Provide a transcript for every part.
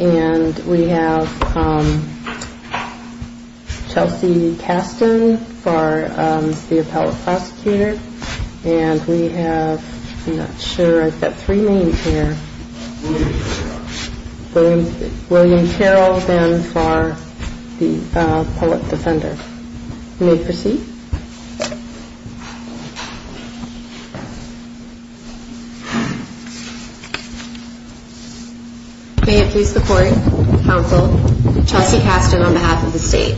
and we have Chelsea Caston for the appellate prosecutor. And we have, I'm not sure, I've got three names here. William Carroll then for the public defender. You may proceed. May it please the court, counsel, Chelsea Caston on behalf of the state.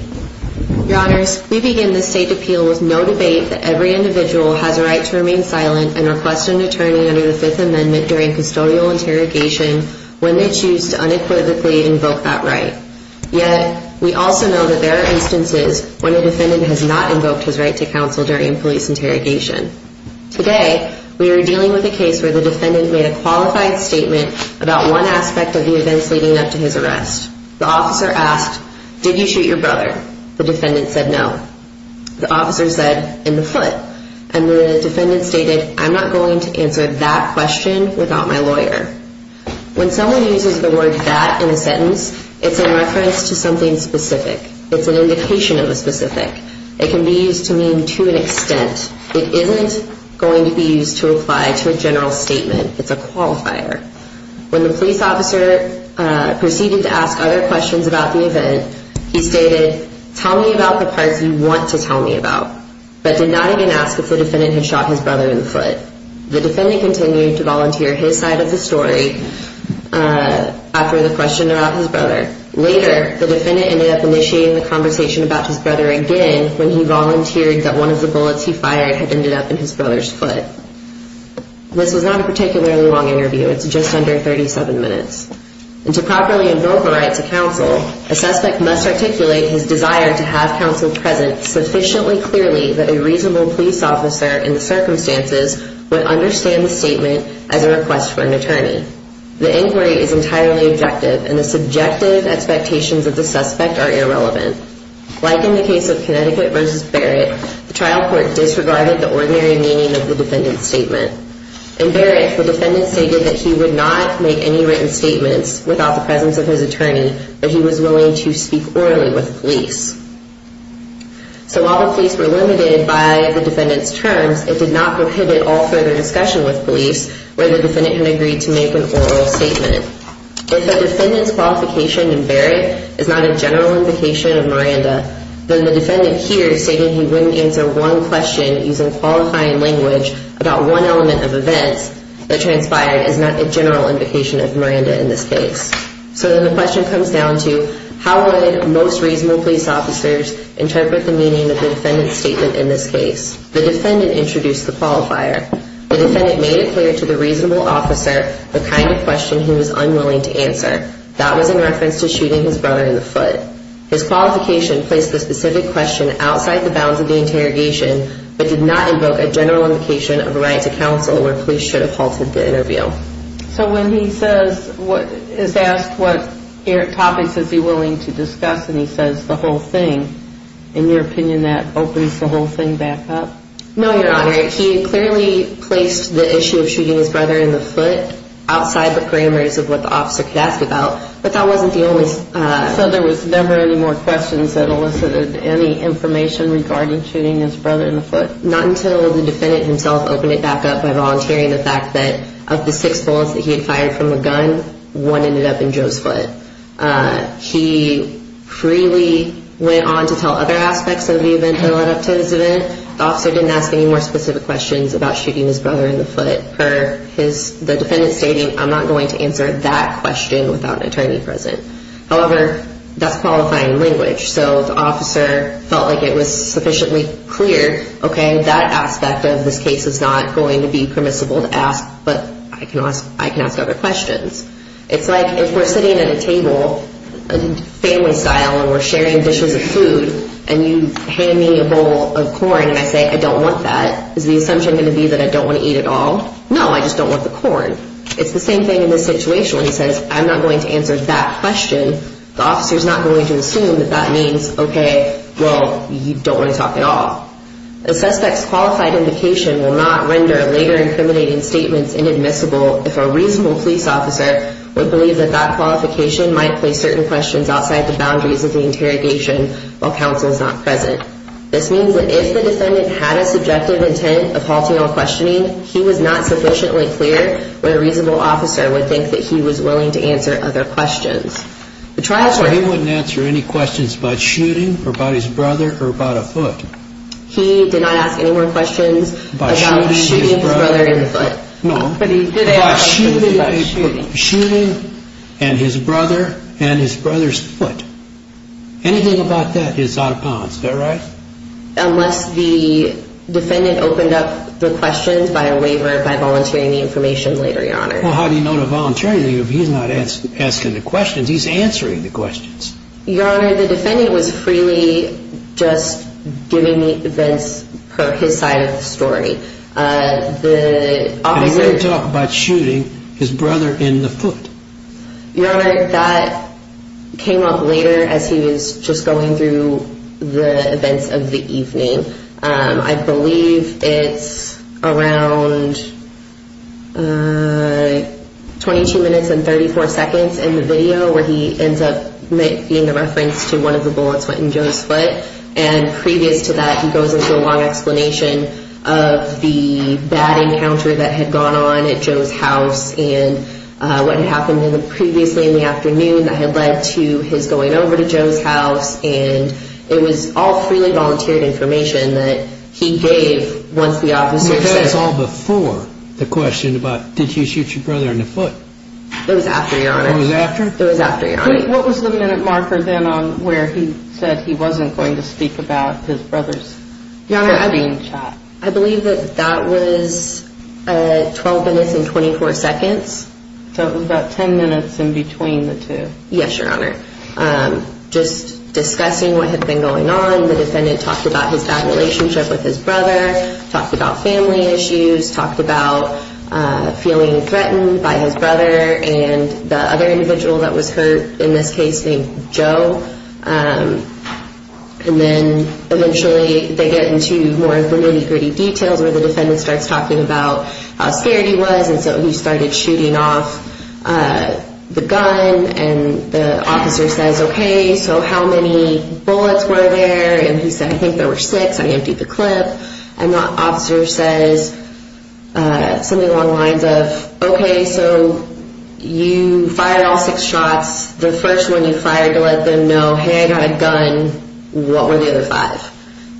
Your honors, we begin this state appeal with no debate that every individual has a right to remain silent and request an attorney under the Fifth Amendment during custodial interrogation when they choose to unequivocally invoke that right. Yet, we also know that there are instances when a defendant has not invoked his right to counsel during a police interrogation. Today, we are dealing with a case where the defendant made a qualified statement about one aspect of the events leading up to his arrest. The officer asked, did you shoot your brother? The defendant said no. The officer said in the foot and the defendant stated, I'm not going to answer that question without my lawyer. When someone uses the word that in a sentence, it's in reference to something specific. It's an indication of a specific. It can be used to mean to an extent. It isn't going to be used to apply to a general statement. It's a qualifier. When the police officer proceeded to ask other questions about the event, he stated, tell me about the parts you want to tell me about, but did not even ask if the defendant had shot his brother in the foot. The defendant continued to volunteer his side of the story after the question about his brother. Later, the defendant ended up initiating the conversation about his brother again when he volunteered that one of the bullets he fired had ended up in his brother's foot. This was not a particularly long interview. It's just under 37 minutes. And to properly invoke a right to counsel, a suspect must articulate his desire to have counsel present sufficiently clearly that a reasonable police officer in the circumstances would understand the statement as a request for an attorney. The inquiry is entirely objective and the subjective expectations of the suspect are irrelevant. Like in the case of Connecticut v. Barrett, the trial court disregarded the ordinary meaning of the defendant's statement. In Barrett, the defendant stated that he would not make any written statements without the presence of his attorney, but he was willing to speak orally with the police. So while the police were limited by the defendant's terms, it did not prohibit all further discussion with police where the defendant had agreed to make an oral statement. If the defendant's qualification in Barrett is not a general invocation of Miranda, then the defendant here stated he wouldn't answer one question using qualifying language about one element of events that transpired is not a general invocation of Miranda in this case. So then the question comes down to how would most reasonable police officers interpret the meaning of the defendant's statement in this case? The defendant introduced the qualifier. The defendant made it clear to the reasonable officer the kind of question he was unwilling to answer. That was in reference to shooting his brother in the foot. His qualification placed the specific question outside the bounds of the interrogation, but did not invoke a general invocation of a right to counsel where police should have halted the interview. So when he is asked what topics is he willing to discuss and he says the whole thing, in your opinion that opens the whole thing back up? No, Your Honor. He clearly placed the issue of shooting his brother in the foot outside the grammars of what the officer could ask about, but that wasn't the only... So there was never any more questions that elicited any information regarding shooting his brother in the foot? Not until the defendant himself opened it back up by volunteering the fact that of the six bullets that he had fired from a gun, one ended up in Joe's foot. He freely went on to tell other aspects of the event that led up to this event. The officer didn't ask any more specific questions about shooting his brother in the foot. The defendant stated, I'm not going to answer that question without an attorney present. However, that's qualifying language, so the officer felt like it was sufficiently clear, okay, that aspect of this case is not going to be permissible to ask, but I can ask other questions. It's like if we're sitting at a table, family style, and we're sharing dishes and food, and you hand me a bowl of corn and I say I don't want that, is the assumption going to be that I don't want to eat at all? No, I just don't want the corn. It's the same thing in this situation where he says, I'm not going to answer that question. The officer's not going to assume that that means, okay, well, you don't want to talk at all. A suspect's qualified indication will not render later incriminating statements inadmissible if a reasonable police officer would believe that that qualification might place certain questions outside the boundaries of the interrogation while counsel is not present. This means that if the defendant had a subjective intent of halting all questioning, he was not sufficiently clear where a reasonable officer would think that he was willing to answer other questions. He wouldn't answer any questions about shooting, or about his brother, or about a foot. He did not ask any more questions about shooting his brother in the foot. Unless the defendant opened up the questions by a waiver by volunteering the information later, your honor. Well, how do you know to volunteer if he's not asking the questions? He's answering the questions. Your honor, the defendant was freely just giving the events per his side of the story. And he didn't talk about shooting his brother in the foot. Your honor, that came up later as he was just going through the events of the evening. I believe it's around 22 minutes and 34 seconds in the video where he ends up being a reference to one of the bullets that went in Joe's foot. And previous to that, he goes into a long explanation of the bad encounter that had gone on at Joe's house. And what had happened previously in the afternoon that had led to his going over to Joe's house. And it was all freely volunteered information that he gave once the officer said it. That was all before the question about did he shoot your brother in the foot? It was after, your honor. It was after? It was after, your honor. What was the minute marker then on where he said he wasn't going to speak about his brother's being shot? I believe that that was 12 minutes and 24 seconds. So it was about 10 minutes in between the two. Yes, your honor. Just discussing what had been going on, the defendant talked about his bad relationship with his brother, talked about family issues, talked about feeling threatened by his brother. And the other individual that was hurt in this case named Joe. And then eventually they get into more of the nitty-gritty details where the defendant starts talking about how scared he was. And so he started shooting off the gun. And the officer says, okay, so how many bullets were there? And he said, I think there were six. I emptied the clip. And the officer says something along the lines of, okay, so you fired all six shots. The first one you fired to let them know, hey, I got a gun, what were the other five?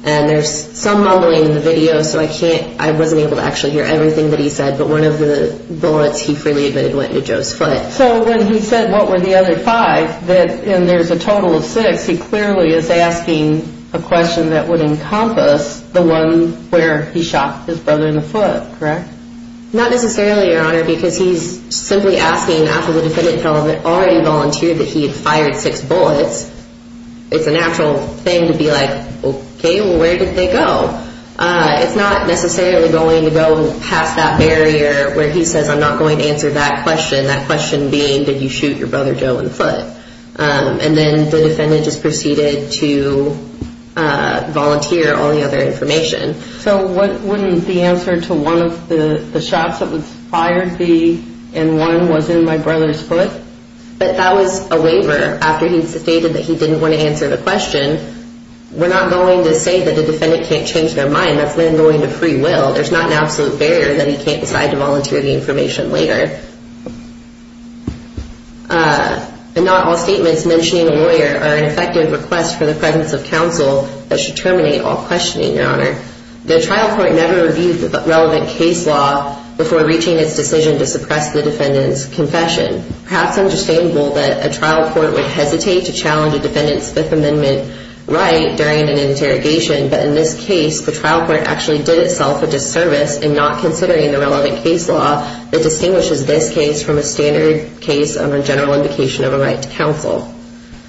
And there's some mumbling in the video, so I wasn't able to actually hear everything that he said, but one of the bullets he freely admitted went into Joe's foot. So when he said what were the other five, and there's a total of six, he clearly is asking a question that would encompass the one where he shot his brother in the foot, correct? Not necessarily, Your Honor, because he's simply asking after the defendant already volunteered that he had fired six bullets. It's a natural thing to be like, okay, well, where did they go? It's not necessarily going to go past that barrier where he says, I'm not going to answer that question, that question being, did you shoot your brother Joe in the foot? And then the defendant just proceeded to volunteer all the other information. So wouldn't the answer to one of the shots that was fired be, and one was in my brother's foot? But that was a waiver after he stated that he didn't want to answer the question. We're not going to say that the defendant can't change their mind. That's then going to free will. There's not an absolute barrier that he can't decide to volunteer the information later. And not all statements mentioning a lawyer are an effective request for the presence of counsel that should terminate all questioning, Your Honor. The trial court never reviewed the relevant case law before reaching its decision to suppress the defendant's confession. Perhaps understandable that a trial court would hesitate to challenge a defendant's Fifth Amendment right during an interrogation, but in this case the trial court actually did itself a disservice in not considering the relevant case law that distinguishes this case from a standard case of a general indication of a right to counsel.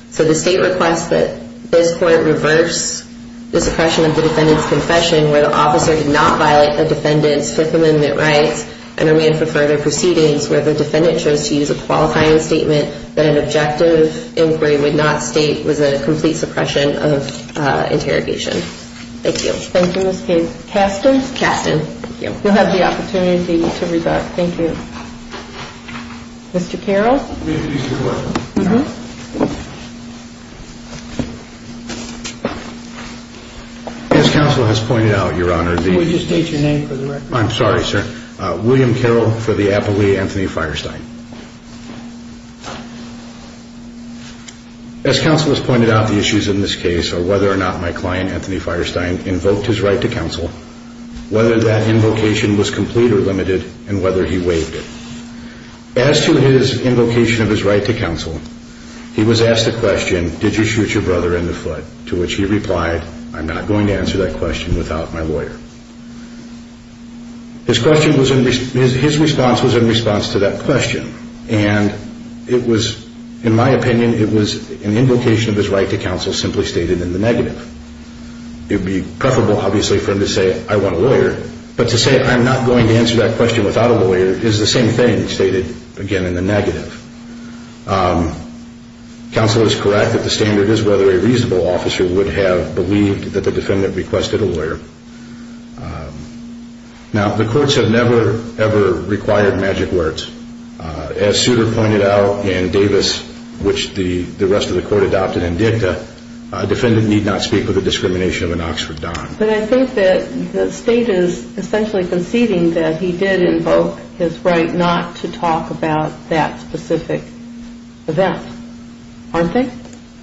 So the state requests that this court reverse the suppression of the defendant's confession where the officer did not violate the defendant's Fifth Amendment rights and remain for further proceedings where the defendant chose to use a qualifying statement that an objective inquiry would not state was a complete suppression of interrogation. Thank you. Thank you, Ms. Case. Kasten? Kasten. Thank you. You'll have the opportunity to resort. Thank you. Mr. Carroll? May I please have a question? Mm-hmm. As counsel has pointed out, Your Honor, the- Can we just state your name for the record? I'm sorry, sir. William Carroll for the appellee, Anthony Firestein. As counsel has pointed out, the issues in this case are whether or not my client, Anthony Firestein, invoked his right to counsel, whether that invocation was complete or limited, and whether he waived it. As to his invocation of his right to counsel, he was asked the question, did you shoot your brother in the foot, to which he replied, I'm not going to answer that question without my lawyer. His response was in response to that question, and it was, in my opinion, it was an invocation of his right to counsel simply stated in the negative. It would be preferable, obviously, for him to say, I want a lawyer, but to say I'm not going to answer that question without a lawyer is the same thing stated, again, in the negative. Counsel is correct that the standard is whether a reasonable officer would have believed that the defendant requested a lawyer. Now, the courts have never, ever required magic words. As Souter pointed out, and Davis, which the rest of the court adopted in dicta, a defendant need not speak with the discrimination of an Oxford Don. But I think that the state is essentially conceding that he did invoke his right not to talk about that specific event, aren't they?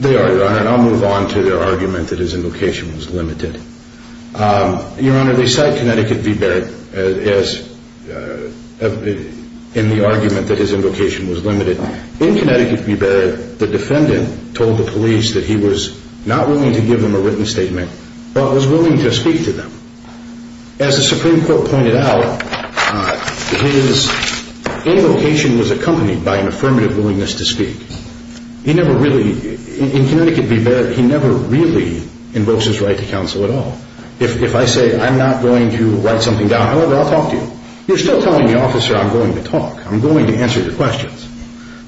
They are, Your Honor, and I'll move on to their argument that his invocation was limited. Your Honor, they cite Connecticut v. Barrett in the argument that his invocation was limited. In Connecticut v. Barrett, the defendant told the police that he was not willing to give them a written statement, but was willing to speak to them. As the Supreme Court pointed out, his invocation was accompanied by an affirmative willingness to speak. He never really, in Connecticut v. Barrett, he never really invokes his right to counsel at all. If I say I'm not going to write something down, however, I'll talk to you, you're still telling the officer I'm going to talk, I'm going to answer your questions.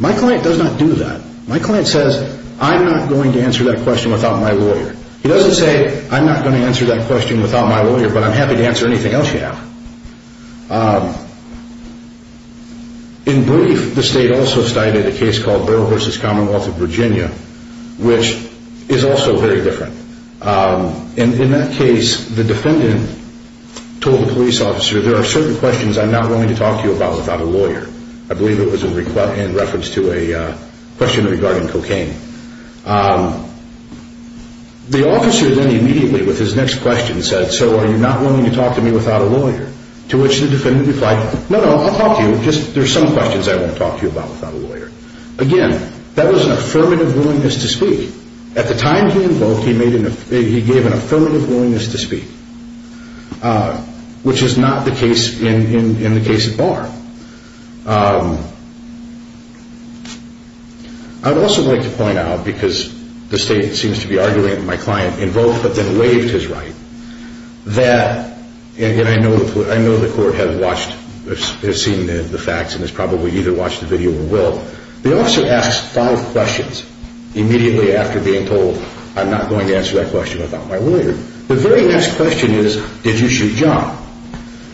My client does not do that. My client says, I'm not going to answer that question without my lawyer. He doesn't say, I'm not going to answer that question without my lawyer, but I'm happy to answer anything else you have. In brief, the state also cited a case called Borough v. Commonwealth of Virginia, which is also very different. In that case, the defendant told the police officer, there are certain questions I'm not willing to talk to you about without a lawyer. I believe it was in reference to a question regarding cocaine. The officer then immediately with his next question said, so are you not willing to talk to me without a lawyer? To which the defendant replied, no, no, I'll talk to you, just there are some questions I won't talk to you about without a lawyer. Again, that was an affirmative willingness to speak. At the time he invoked, he gave an affirmative willingness to speak, which is not the case in the case at bar. I would also like to point out, because the state seems to be arguing that my client invoked but then waived his right, that, and I know the court has seen the facts and has probably either watched the video or will, the officer asked five questions immediately after being told I'm not going to answer that question without my lawyer. The very next question is, did you shoot John?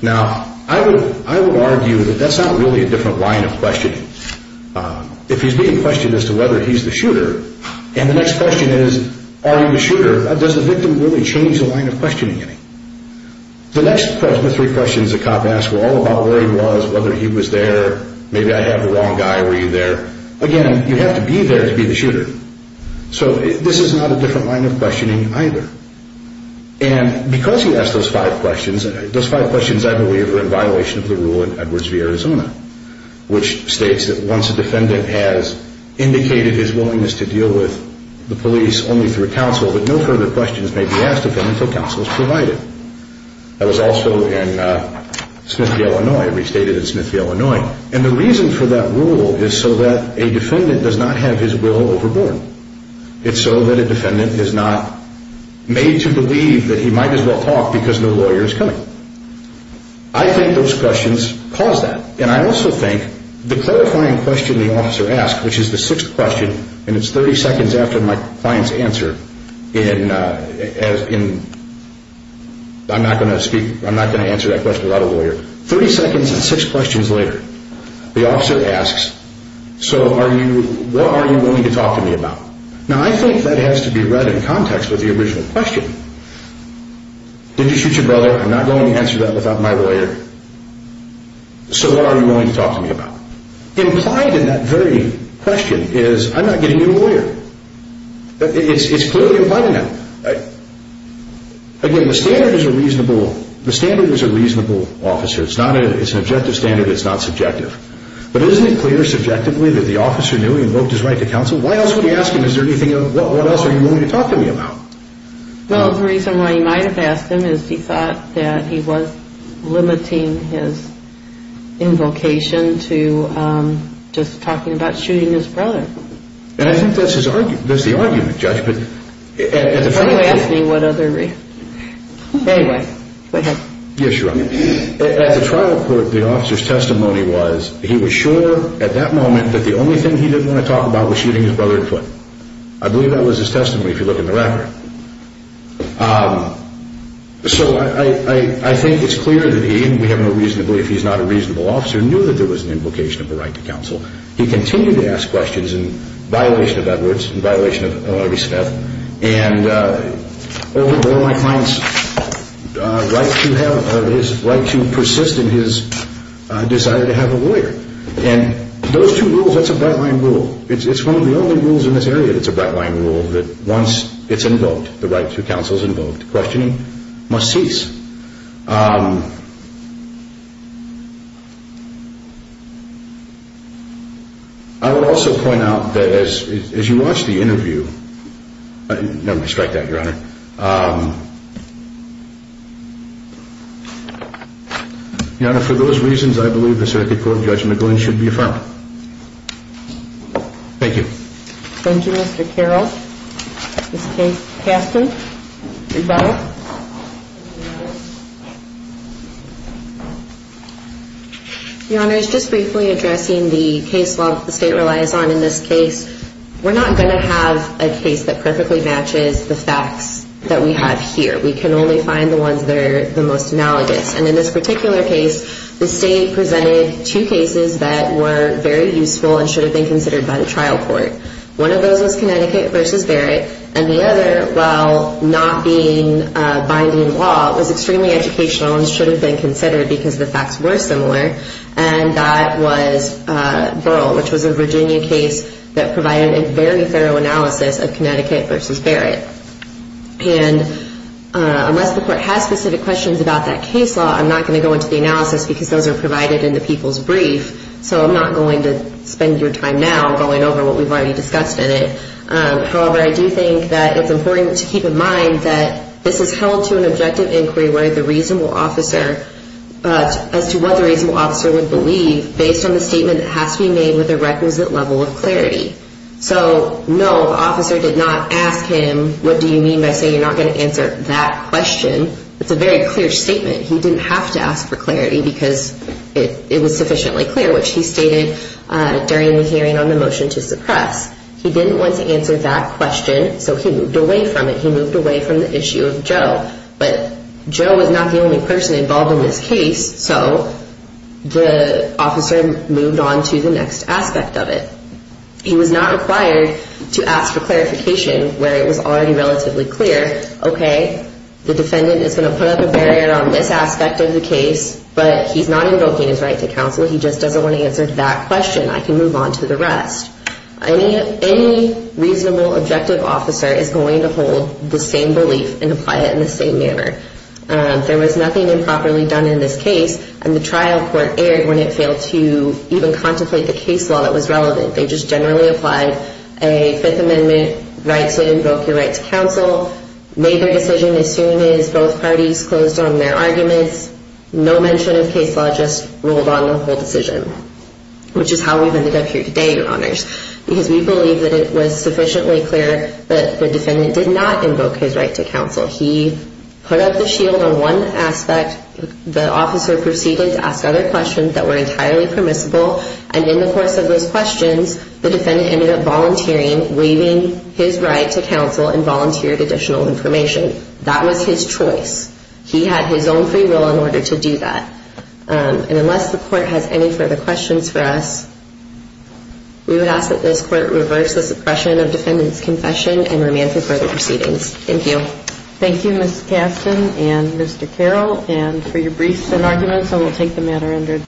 Now, I would argue that that's not really a different line of questioning. If he's being questioned as to whether he's the shooter, and the next question is, are you the shooter, does the victim really change the line of questioning in him? The next three questions the cop asked were all about where he was, whether he was there, maybe I have the wrong guy, were you there? Again, you have to be there to be the shooter. So this is not a different line of questioning either. And because he asked those five questions, those five questions, I believe, were in violation of the rule in Edwards v. Arizona, which states that once a defendant has indicated his willingness to deal with the police only through counsel, but no further questions may be asked of him until counsel is provided. That was also in Smith v. Illinois. It restated in Smith v. Illinois. And the reason for that rule is so that a defendant does not have his will overborne. It's so that a defendant is not made to believe that he might as well talk because no lawyer is coming. I think those questions cause that. And I also think the clarifying question the officer asked, which is the sixth question, and it's 30 seconds after my client's answer in, I'm not going to speak, I'm not going to answer that question without a lawyer, 30 seconds and six questions later, the officer asks, so what are you willing to talk to me about? Now, I think that has to be read in context with the original question. Did you shoot your brother? I'm not going to answer that without my lawyer. So what are you willing to talk to me about? Implied in that very question is I'm not getting a new lawyer. It's clearly implied in that. Again, the standard is a reasonable officer. It's an objective standard. It's not subjective. But isn't it clear subjectively that the officer knew he invoked his right to counsel? Why else would he ask him, is there anything else you're willing to talk to me about? Well, the reason why he might have asked him is he thought that he was limiting his invocation to just talking about shooting his brother. And I think that's the argument, Judge. Anyway, ask me what other reason. Anyway, go ahead. Yes, Your Honor. At the trial court, the officer's testimony was he was sure at that moment that the only thing he didn't want to talk about was shooting his brother in the foot. I believe that was his testimony if you look in the record. So I think it's clear that he, even if he's not a reasonable officer, knew that there was an invocation of a right to counsel. He continued to ask questions in violation of Edwards, in violation of R.B. Smith, and over and over he finds his right to persist in his desire to have a lawyer. And those two rules, that's a backline rule. It's one of the only rules in this area that's a backline rule that once it's invoked, the right to counsel is invoked, questioning must cease. I will also point out that as you watch the interview, never mind, strike that, Your Honor. Your Honor, for those reasons, I believe the circuit court judgment going should be affirmed. Thank you. Thank you, Mr. Carroll. Ms. Kasten. Your Honor, I was just briefly addressing the case law that the state relies on in this case. We're not going to have a case that perfectly matches the facts that we have in this case. We can only find the ones that are the most analogous. And in this particular case, the state presented two cases that were very useful and should have been considered by the trial court. One of those was Connecticut v. Barrett, and the other, while not being binding law, was extremely educational and should have been considered because the facts were similar, and that was Burl, which was a Virginia case that provided a very thorough analysis of Connecticut v. Barrett. And unless the court has specific questions about that case law, I'm not going to go into the analysis because those are provided in the people's brief, so I'm not going to spend your time now going over what we've already discussed in it. However, I do think that it's important to keep in mind that this is held to an objective inquiry where the reasonable officer, as to what the reasonable officer would believe, based on the statement that has to be made with a requisite level of clarity. So, no, the officer did not ask him, what do you mean by saying you're not going to answer that question? It's a very clear statement. He didn't have to ask for clarity because it was sufficiently clear, which he stated during the hearing on the motion to suppress. He didn't want to answer that question, so he moved away from it. He moved away from the issue of Joe. But Joe was not the only person involved in this case, so the officer moved on to the next aspect of it. He was not required to ask for clarification where it was already relatively clear, okay, the defendant is going to put up a barrier on this aspect of the case, but he's not invoking his right to counsel. He just doesn't want to answer that question. I can move on to the rest. Any reasonable objective officer is going to hold the same belief and apply it in the same manner. There was nothing improperly done in this case, and the trial court erred when it failed to even contemplate the case law that was relevant. They just generally applied a Fifth Amendment right to invoke your right to counsel, made their decision as soon as both parties closed on their arguments, no mention of case law, just rolled on the whole decision, which is how we've ended up here today, Your Honors, because we believe that it was sufficiently clear that the defendant did not invoke his right to counsel. He put up the shield on one aspect. The officer proceeded to ask other questions that were entirely permissible, and in the course of those questions, the defendant ended up volunteering, waiving his right to counsel and volunteered additional information. That was his choice. He had his own free will in order to do that. And unless the court has any further questions for us, we would ask that this court reverse the suppression of defendant's confession and remand him for the proceedings. Thank you. Thank you, Ms. Kasten and Mr. Carroll. And for your briefs and arguments, I will take the matter under adjournment.